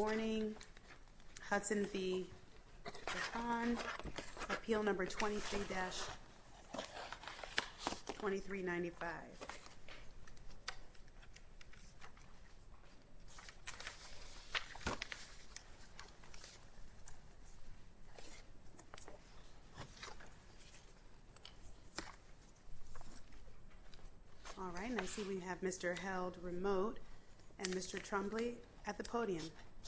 Warning, Hudson v. DeHaan, Appeal No. 23-2395. All right, and I see we have Mr. Held Remote and Mr. Trombley at the podium.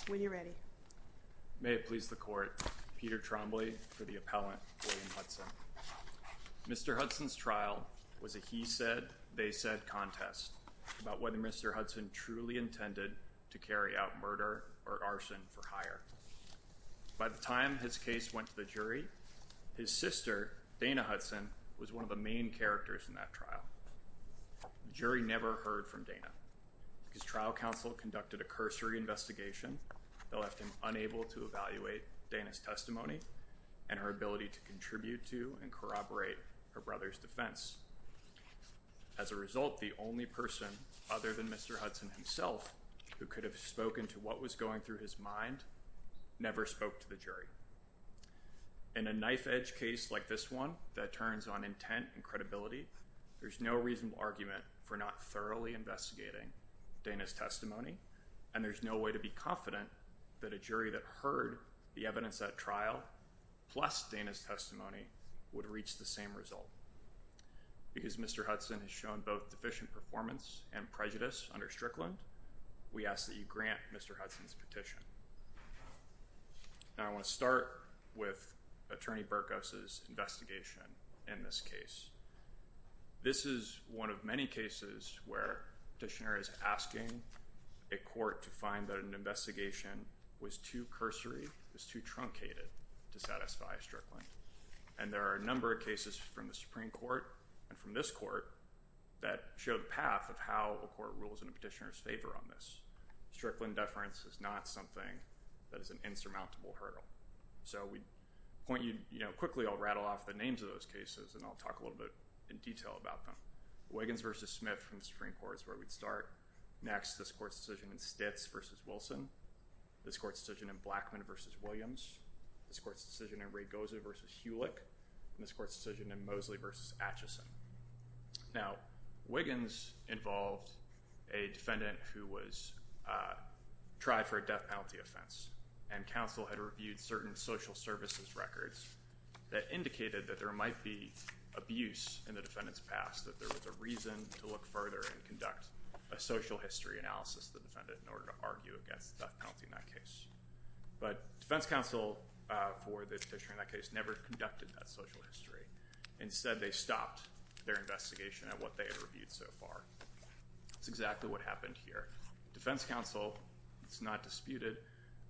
When you're ready. May it please the Court, Peter Trombley for the appellant, William Hudson. Mr. Hudson's trial was a he-said, they-said contest about whether Mr. Hudson truly intended to carry out murder or arson for hire. By the time his case went to the jury, his sister, Dana Hudson, was one of the main characters in that trial. The jury never heard from Dana. His trial counsel conducted a cursory investigation that left him unable to evaluate Dana's testimony and her ability to contribute to and corroborate her brother's defense. As a result, the only person other than Mr. Hudson himself who could have spoken to what was going through his mind never spoke to the jury. In a knife-edge case like this one that turns on intent and credibility, there's no reasonable argument for not thoroughly investigating Dana's testimony, and there's no way to be confident that a jury that heard the evidence at trial, plus Dana's testimony, would reach the same result. Because Mr. Hudson has shown both deficient performance and prejudice under Strickland, we ask that you grant Mr. Hudson's petition. Now I want to start with Attorney Burkos' investigation in this case. This is one of many cases where a petitioner is asking a court to find that an investigation was too cursory, was too truncated, to satisfy Strickland. And there are a number of cases from the Supreme Court and from this court that show the path of how a court rules in a petitioner's favor on this. Strickland deference is not something that is an insurmountable hurdle. So we point you, you know, quickly I'll rattle off the names of those cases and I'll talk a little bit in detail about them. Wiggins v. Smith from the Supreme Court is where we'd start. Next, this court's decision in Stitz v. Wilson. This court's decision in Blackman v. Williams. This court's decision in Ragoza v. Hulick. And this court's decision in Mosley v. Atchison. Now, Wiggins involved a defendant who was tried for a death penalty offense, and counsel had reviewed certain social services records that indicated that there might be abuse in the defendant's past, that there was a reason to look further and conduct a social history analysis of the defendant in order to argue against the death penalty in that case. But defense counsel for the petitioner in that case never conducted that social history. Instead, they stopped their investigation at what they had reviewed so far. That's exactly what happened here. Defense counsel, it's not disputed,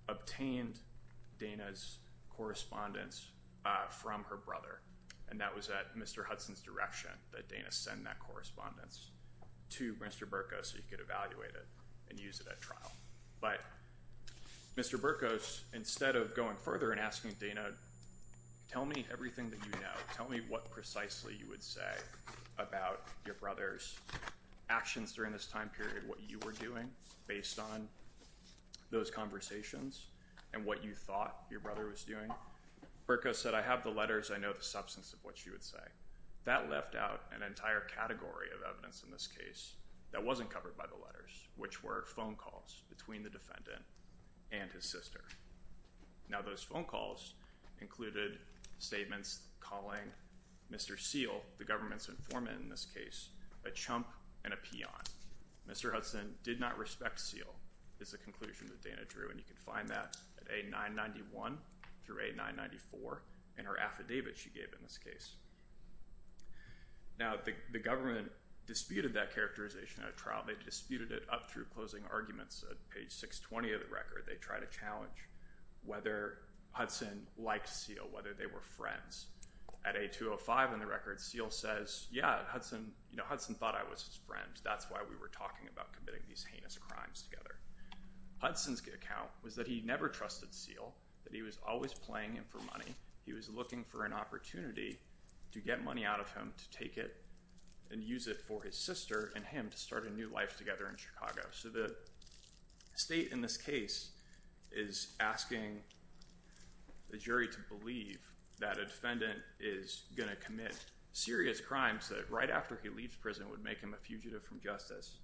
obtained Dana's correspondence from her brother, and that was at Mr. Hudson's direction that Dana send that correspondence to Mr. Burkos so he could evaluate it and use it at trial. But Mr. Burkos, instead of going further and asking Dana, tell me everything that you know, tell me what precisely you would say about your brother's actions during this time period, what you were doing based on those conversations, and what you thought your brother was doing, Burkos said, I have the letters, I know the substance of what you would say. That left out an entire category of evidence in this case that wasn't covered by the letters, which were phone calls between the defendant and his sister. Now, those phone calls included statements calling Mr. Seale, the government's informant in this case, a chump and a peon. Mr. Hudson did not respect Seale is the conclusion that Dana drew, and you can find that at A991 through A994 in her affidavit she gave in this case. Now, the government disputed that characterization at a trial. They disputed it up through closing arguments at page 620 of the record. They tried to challenge whether Hudson liked Seale, whether they were friends. At A205 in the record, Seale says, yeah, Hudson thought I was his friend. That's why we were talking about committing these heinous crimes together. Hudson's account was that he never trusted Seale, that he was always playing him for money. He was looking for an opportunity to get money out of him to take it and use it for his sister and him to start a new life together in Chicago. So the state in this case is asking the jury to believe that a defendant is going to commit serious crimes that right after he leaves prison would make him a fugitive from justice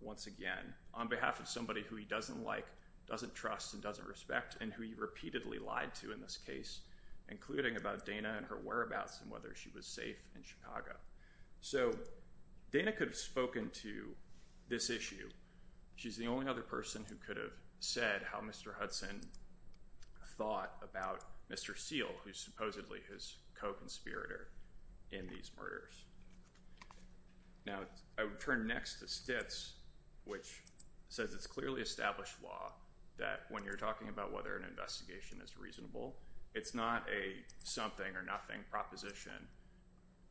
once again on behalf of somebody who he doesn't like, doesn't trust, and doesn't respect and who he repeatedly lied to in this case, including about Dana and her whereabouts and whether she was safe in Chicago. So Dana could have spoken to this issue. She's the only other person who could have said how Mr. Hudson thought about Mr. Seale, who's supposedly his co-conspirator in these murders. Now, I would turn next to Stitz, which says it's clearly established law that when you're talking about whether an investigation is reasonable, it's not a something or nothing proposition.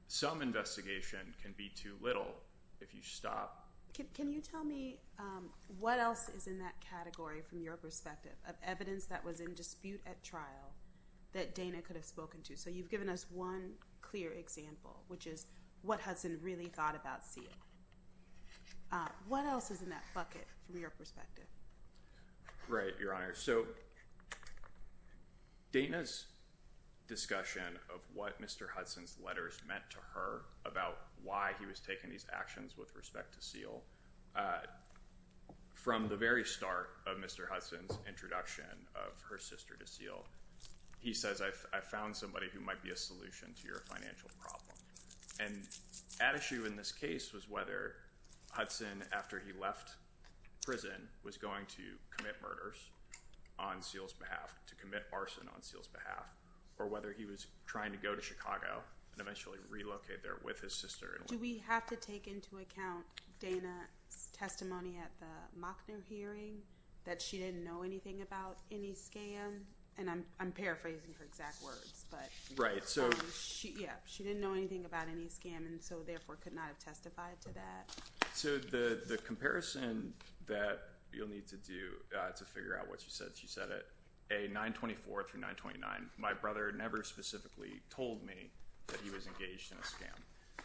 Some investigation can be too little if you stop. Can you tell me what else is in that category from your perspective of evidence that was in dispute at trial that Dana could have spoken to? So you've given us one clear example, which is what Hudson really thought about Seale. What else is in that bucket from your perspective? Right, Your Honor. So Dana's discussion of what Mr. Hudson's letters meant to her about why he was taking these actions with respect to Seale, from the very start of Mr. Hudson's introduction of her sister to Seale, he says, I found somebody who might be a solution to your financial problem. And at issue in this case was whether Hudson, after he left prison, was going to commit murders on Seale's behalf, to commit arson on Seale's behalf, or whether he was trying to go to Chicago and eventually relocate there with his sister. Do we have to take into account Dana's testimony at the Mockner hearing that she didn't know anything about any scam? And I'm paraphrasing her exact words. Right. Yeah, she didn't know anything about any scam, and so therefore could not have testified to that. So the comparison that you'll need to do to figure out what she said, she said it. A-924 through 929, my brother never specifically told me that he was engaged in a scam.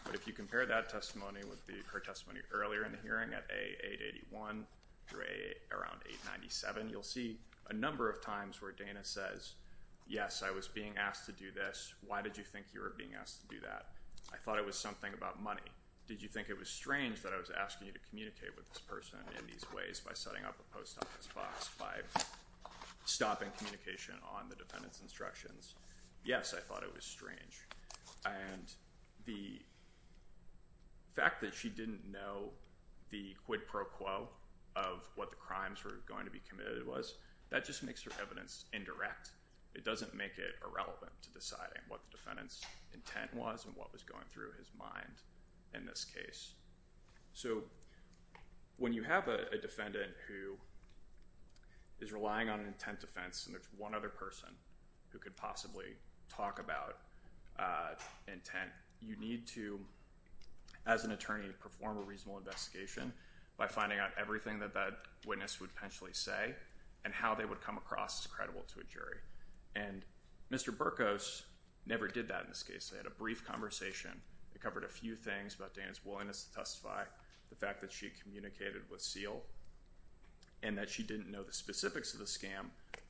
But if you compare that testimony with her testimony earlier in the hearing at A-881 through around 897, you'll see a number of times where Dana says, yes, I was being asked to do this. Why did you think you were being asked to do that? I thought it was something about money. Did you think it was strange that I was asking you to communicate with this person in these ways by setting up a post office box, by stopping communication on the defendant's instructions? Yes, I thought it was strange. And the fact that she didn't know the quid pro quo of what the crimes were going to be committed was, that just makes her evidence indirect. It doesn't make it irrelevant to deciding what the defendant's intent was and what was going through his mind in this case. So when you have a defendant who is relying on intent defense and there's one other person who could possibly talk about intent, you need to, as an attorney, perform a reasonable investigation by finding out everything that that witness would potentially say and how they would come across as credible to a jury. And Mr. Burkos never did that in this case. They had a brief conversation that covered a few things about Dana's willingness to testify, the fact that she communicated with Seal, and that she didn't know the specifics of the scam.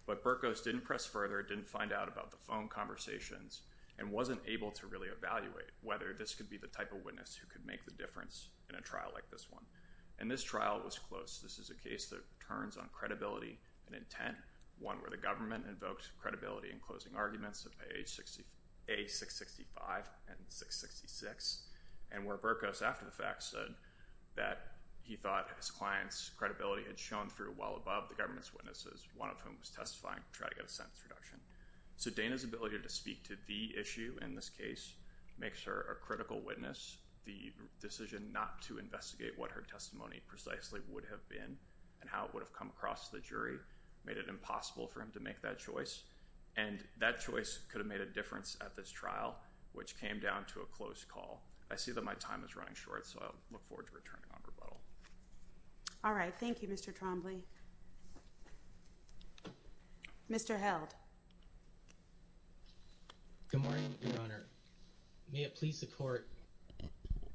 But Burkos didn't press further, didn't find out about the phone conversations, and wasn't able to really evaluate whether this could be the type of witness who could make the difference in a trial like this one. And this trial was close. This is a case that turns on credibility and intent, one where the government invoked credibility in closing arguments of A665 and 666, and where Burkos, after the fact, said that he thought his client's credibility had shown through well above the government's witnesses, one of whom was testifying to try to get a sentence reduction. So Dana's ability to speak to the issue in this case makes her a critical witness. The decision not to investigate what her testimony precisely would have been and how it would have come across to the jury made it impossible for him to make that choice. And that choice could have made a difference at this trial, which came down to a close call. I see that my time is running short, so I look forward to returning on rebuttal. All right, thank you, Mr. Trombley. Mr. Held. Good morning, Your Honor. May it please the Court,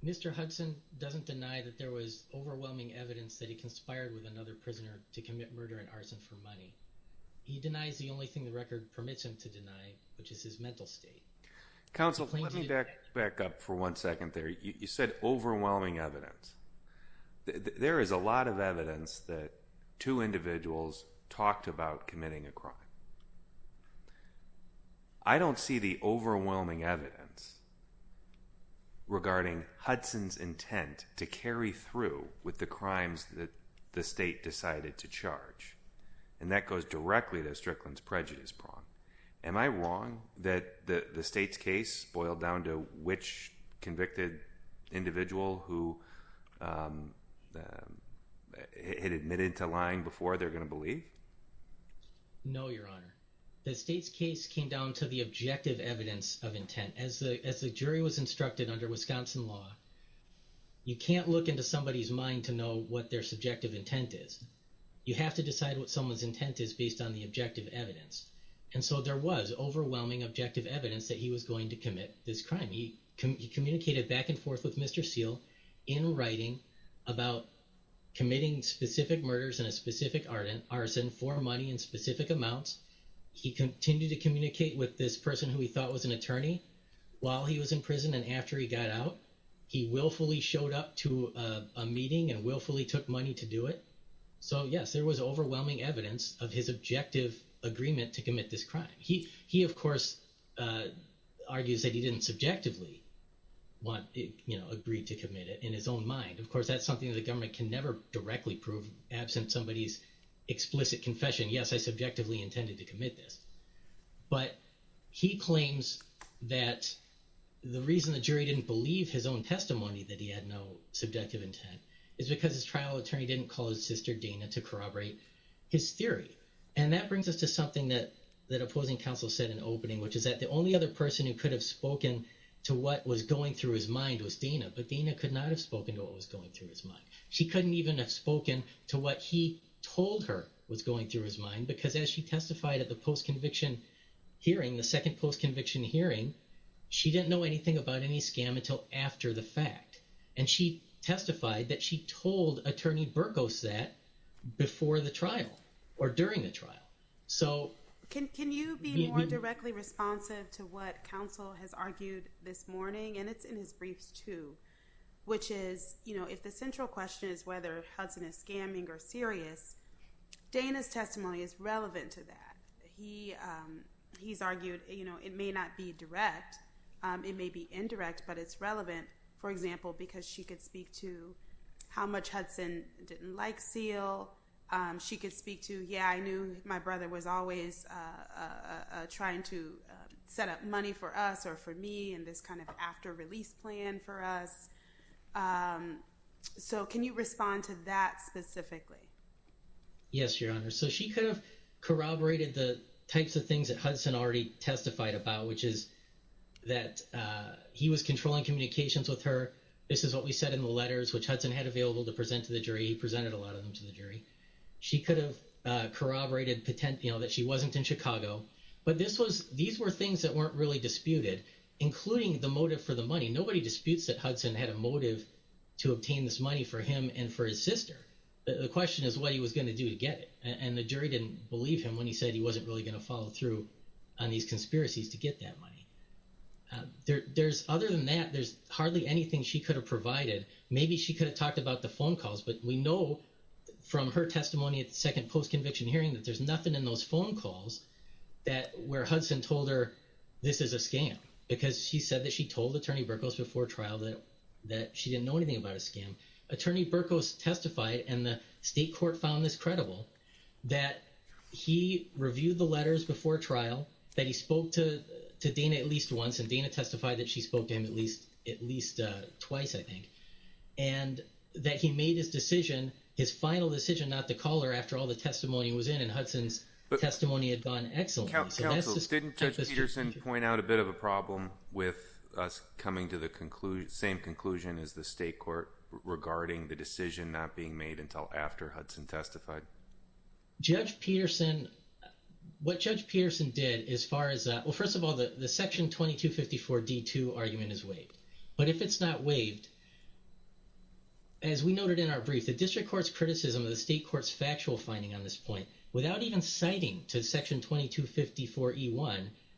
Mr. Hudson doesn't deny that there was overwhelming evidence that he conspired with another prisoner to commit murder and arson for money. He denies the only thing the record permits him to deny, which is his mental state. Counsel, let me back up for one second there. You said overwhelming evidence. There is a lot of evidence that two individuals talked about committing a crime. I don't see the overwhelming evidence regarding Hudson's intent to carry through with the crimes that the State decided to charge. And that goes directly to Strickland's prejudice prong. Am I wrong that the State's case boiled down to which convicted individual who had admitted to lying before they're going to believe? No, Your Honor. The State's case came down to the objective evidence of intent. As the jury was instructed under Wisconsin law, you can't look into somebody's mind to know what their subjective intent is. You have to decide what someone's intent is based on the objective evidence. And so there was overwhelming objective evidence that he was going to commit this crime. He communicated back and forth with Mr. Seale in writing about committing specific murders and a specific arson for money in specific amounts. He continued to communicate with this person who he thought was an attorney while he was in prison and after he got out. He willfully showed up to a meeting and willfully took money to do it. So yes, there was overwhelming evidence of his objective agreement to commit this crime. He, of course, argues that he didn't subjectively agree to commit it in his own mind. Of course, that's something that the government can never directly prove absent somebody's explicit confession. Yes, I subjectively intended to commit this. But he claims that the reason the jury didn't believe his own testimony, that he had no subjective intent, is because his trial attorney didn't call his sister, Dana, to corroborate his theory. And that brings us to something that opposing counsel said in the opening, which is that the only other person who could have spoken to what was going through his mind was Dana. But Dana could not have spoken to what was going through his mind. She couldn't even have spoken to what he told her was going through his mind, because as she testified at the post-conviction hearing, the second post-conviction hearing, she didn't know anything about any scam until after the fact. And she testified that she told attorney Burgos that before the trial or during the trial. So... Can you be more directly responsive to what counsel has argued this morning? And it's in his briefs too, which is, you know, if the central question is whether Hudson is scamming or serious, Dana's testimony is relevant to that. He's argued, you know, it may not be direct. It may be indirect, but it's relevant, for example, because she could speak to how much Hudson didn't like Seal. She could speak to, yeah, I knew my brother was always trying to set up money for us or for me and this kind of after-release plan for us. So can you respond to that specifically? Yes, Your Honor. So she could have corroborated the types of things that Hudson already testified about, which is that he was controlling communications with her. This is what we said in the letters, which Hudson had available to present to the jury. He presented a lot of them to the jury. She could have corroborated, you know, that she wasn't in Chicago. But these were things that weren't really disputed, including the motive for the money. Nobody disputes that Hudson had a motive to obtain this money for him and for his sister. The question is what he was going to do to get it, and the jury didn't believe him when he said he wasn't really going to follow through on these conspiracies to get that money. Other than that, there's hardly anything she could have provided. Maybe she could have talked about the phone calls, but we know from her testimony at the second post-conviction hearing that there's nothing in those phone calls where Hudson told her this is a scam because she said that she told Attorney Burkos before trial that she didn't know anything about a scam. Attorney Burkos testified, and the state court found this credible, that he reviewed the letters before trial, that he spoke to Dana at least once, and Dana testified that she spoke to him at least twice, I think, and that he made his final decision not to call her after all the testimony was in, and Hudson's testimony had gone excellently. Counsel, didn't Judge Peterson point out a bit of a problem with us coming to the same conclusion as the state court regarding the decision not being made until after Hudson testified? Judge Peterson, what Judge Peterson did as far as that, well, first of all, the section 2254 D2 argument is waived, but if it's not waived, as we noted in our brief, the district court's criticism of the state court's factual finding on this point, without even citing to section 2254 E1,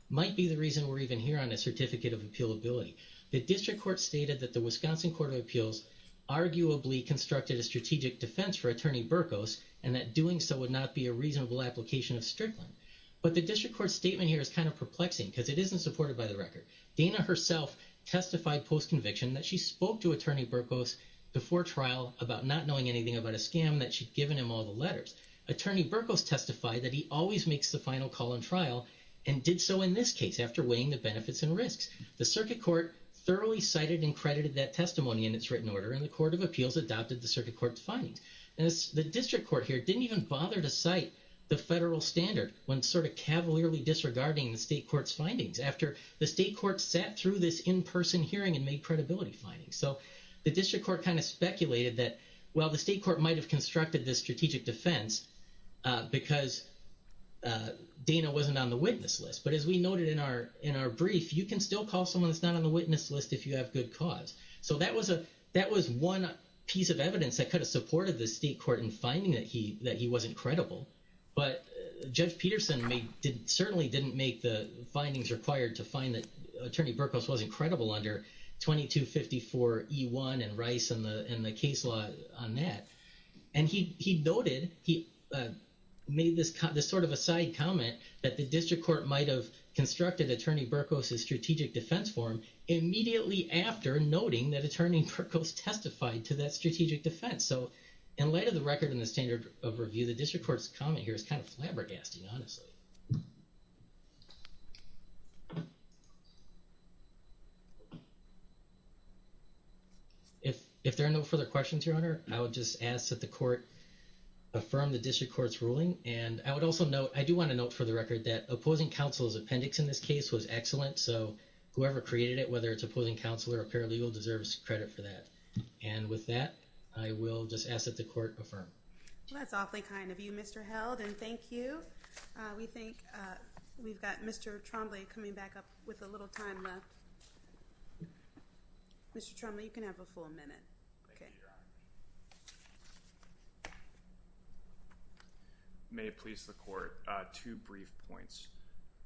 might be the reason we're even here on a certificate of appealability. The district court stated that the Wisconsin Court of Appeals arguably constructed a strategic defense for Attorney Burkos, and that doing so would not be a reasonable application of strickland. But the district court's statement here is kind of perplexing because it isn't supported by the record. Dana herself testified post-conviction that she spoke to Attorney Burkos before trial about not knowing anything about a scam, that she'd given him all the letters. Attorney Burkos testified that he always makes the final call on trial, and did so in this case after weighing the benefits and risks. The circuit court thoroughly cited and credited that testimony in its written order, and the Court of Appeals adopted the circuit court's findings. The district court here didn't even bother to cite the federal standard when sort of cavalierly disregarding the state court's findings after the state court sat through this in-person hearing and made credibility findings. So the district court kind of speculated that, well, the state court might have constructed this strategic defense because Dana wasn't on the witness list. But as we noted in our brief, you can still call someone that's not on the witness list if you have good cause. So that was one piece of evidence that could have supported the state court in finding that he wasn't credible. But Judge Peterson certainly didn't make the findings required to find that Attorney Burkos wasn't credible under 2254E1 and Rice and the case law on that. And he noted, he made this sort of a side comment that the district court might have constructed Attorney Burkos' strategic defense form immediately after noting that Attorney Burkos testified to that strategic defense. So in light of the record and the standard of review, the district court's comment here is kind of flabbergasting, honestly. If there are no further questions, Your Honor, I would just ask that the court affirm the district court's ruling. And I would also note, I do want to note for the record that opposing counsel's appendix in this case was excellent. So whoever created it, whether it's opposing counsel or a paralegal, deserves credit for that. And with that, I will just ask that the court affirm. Well, that's awfully kind of you, Mr. Held, and thank you. We think we've got Mr. Trombley coming back up with a little time left. Mr. Trombley, you can have a full minute. Thank you, Your Honor. May it please the court, two brief points.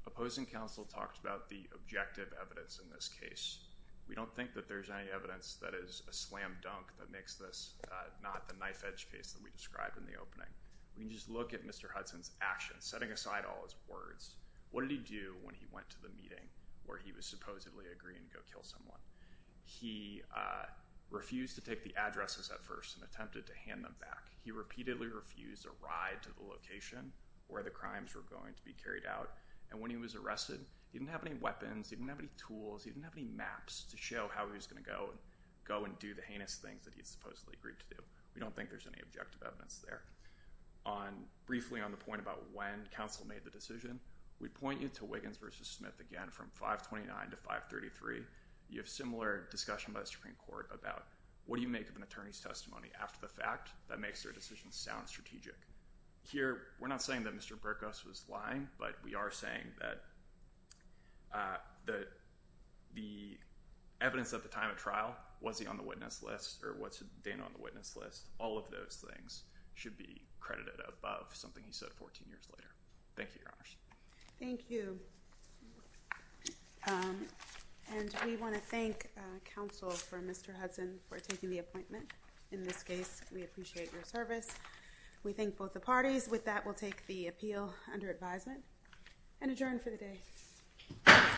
Opposing counsel talked about the objective evidence in this case. We don't think that there's any evidence that is a slam dunk that makes this not the knife-edge case that we described in the opening. We can just look at Mr. Hudson's actions, setting aside all his words. What did he do when he went to the meeting where he was supposedly agreeing to go kill someone? He refused to take the addresses at first and attempted to hand them back. He repeatedly refused a ride to the location where the crimes were going to be carried out. And when he was arrested, he didn't have any weapons, he didn't have any tools, he didn't have any maps to show how he was going to go and do the heinous things that he had supposedly agreed to do. We don't think there's any objective evidence there. Briefly on the point about when counsel made the decision, we point you to Wiggins v. Smith again from 529 to 533. You have similar discussion by the Supreme Court about what do you make of an attorney's testimony after the fact that makes their decision sound strategic. Here, we're not saying that Mr. Burkus was lying, but we are saying that the evidence at the time of trial, was he on the witness list or was Dana on the witness list, all of those things should be credited above something he said 14 years later. Thank you, Your Honors. Thank you. And we want to thank counsel for Mr. Hudson for taking the appointment. In this case, we appreciate your service. We thank both the parties. With that, we'll take the appeal under advisement and adjourn for the day.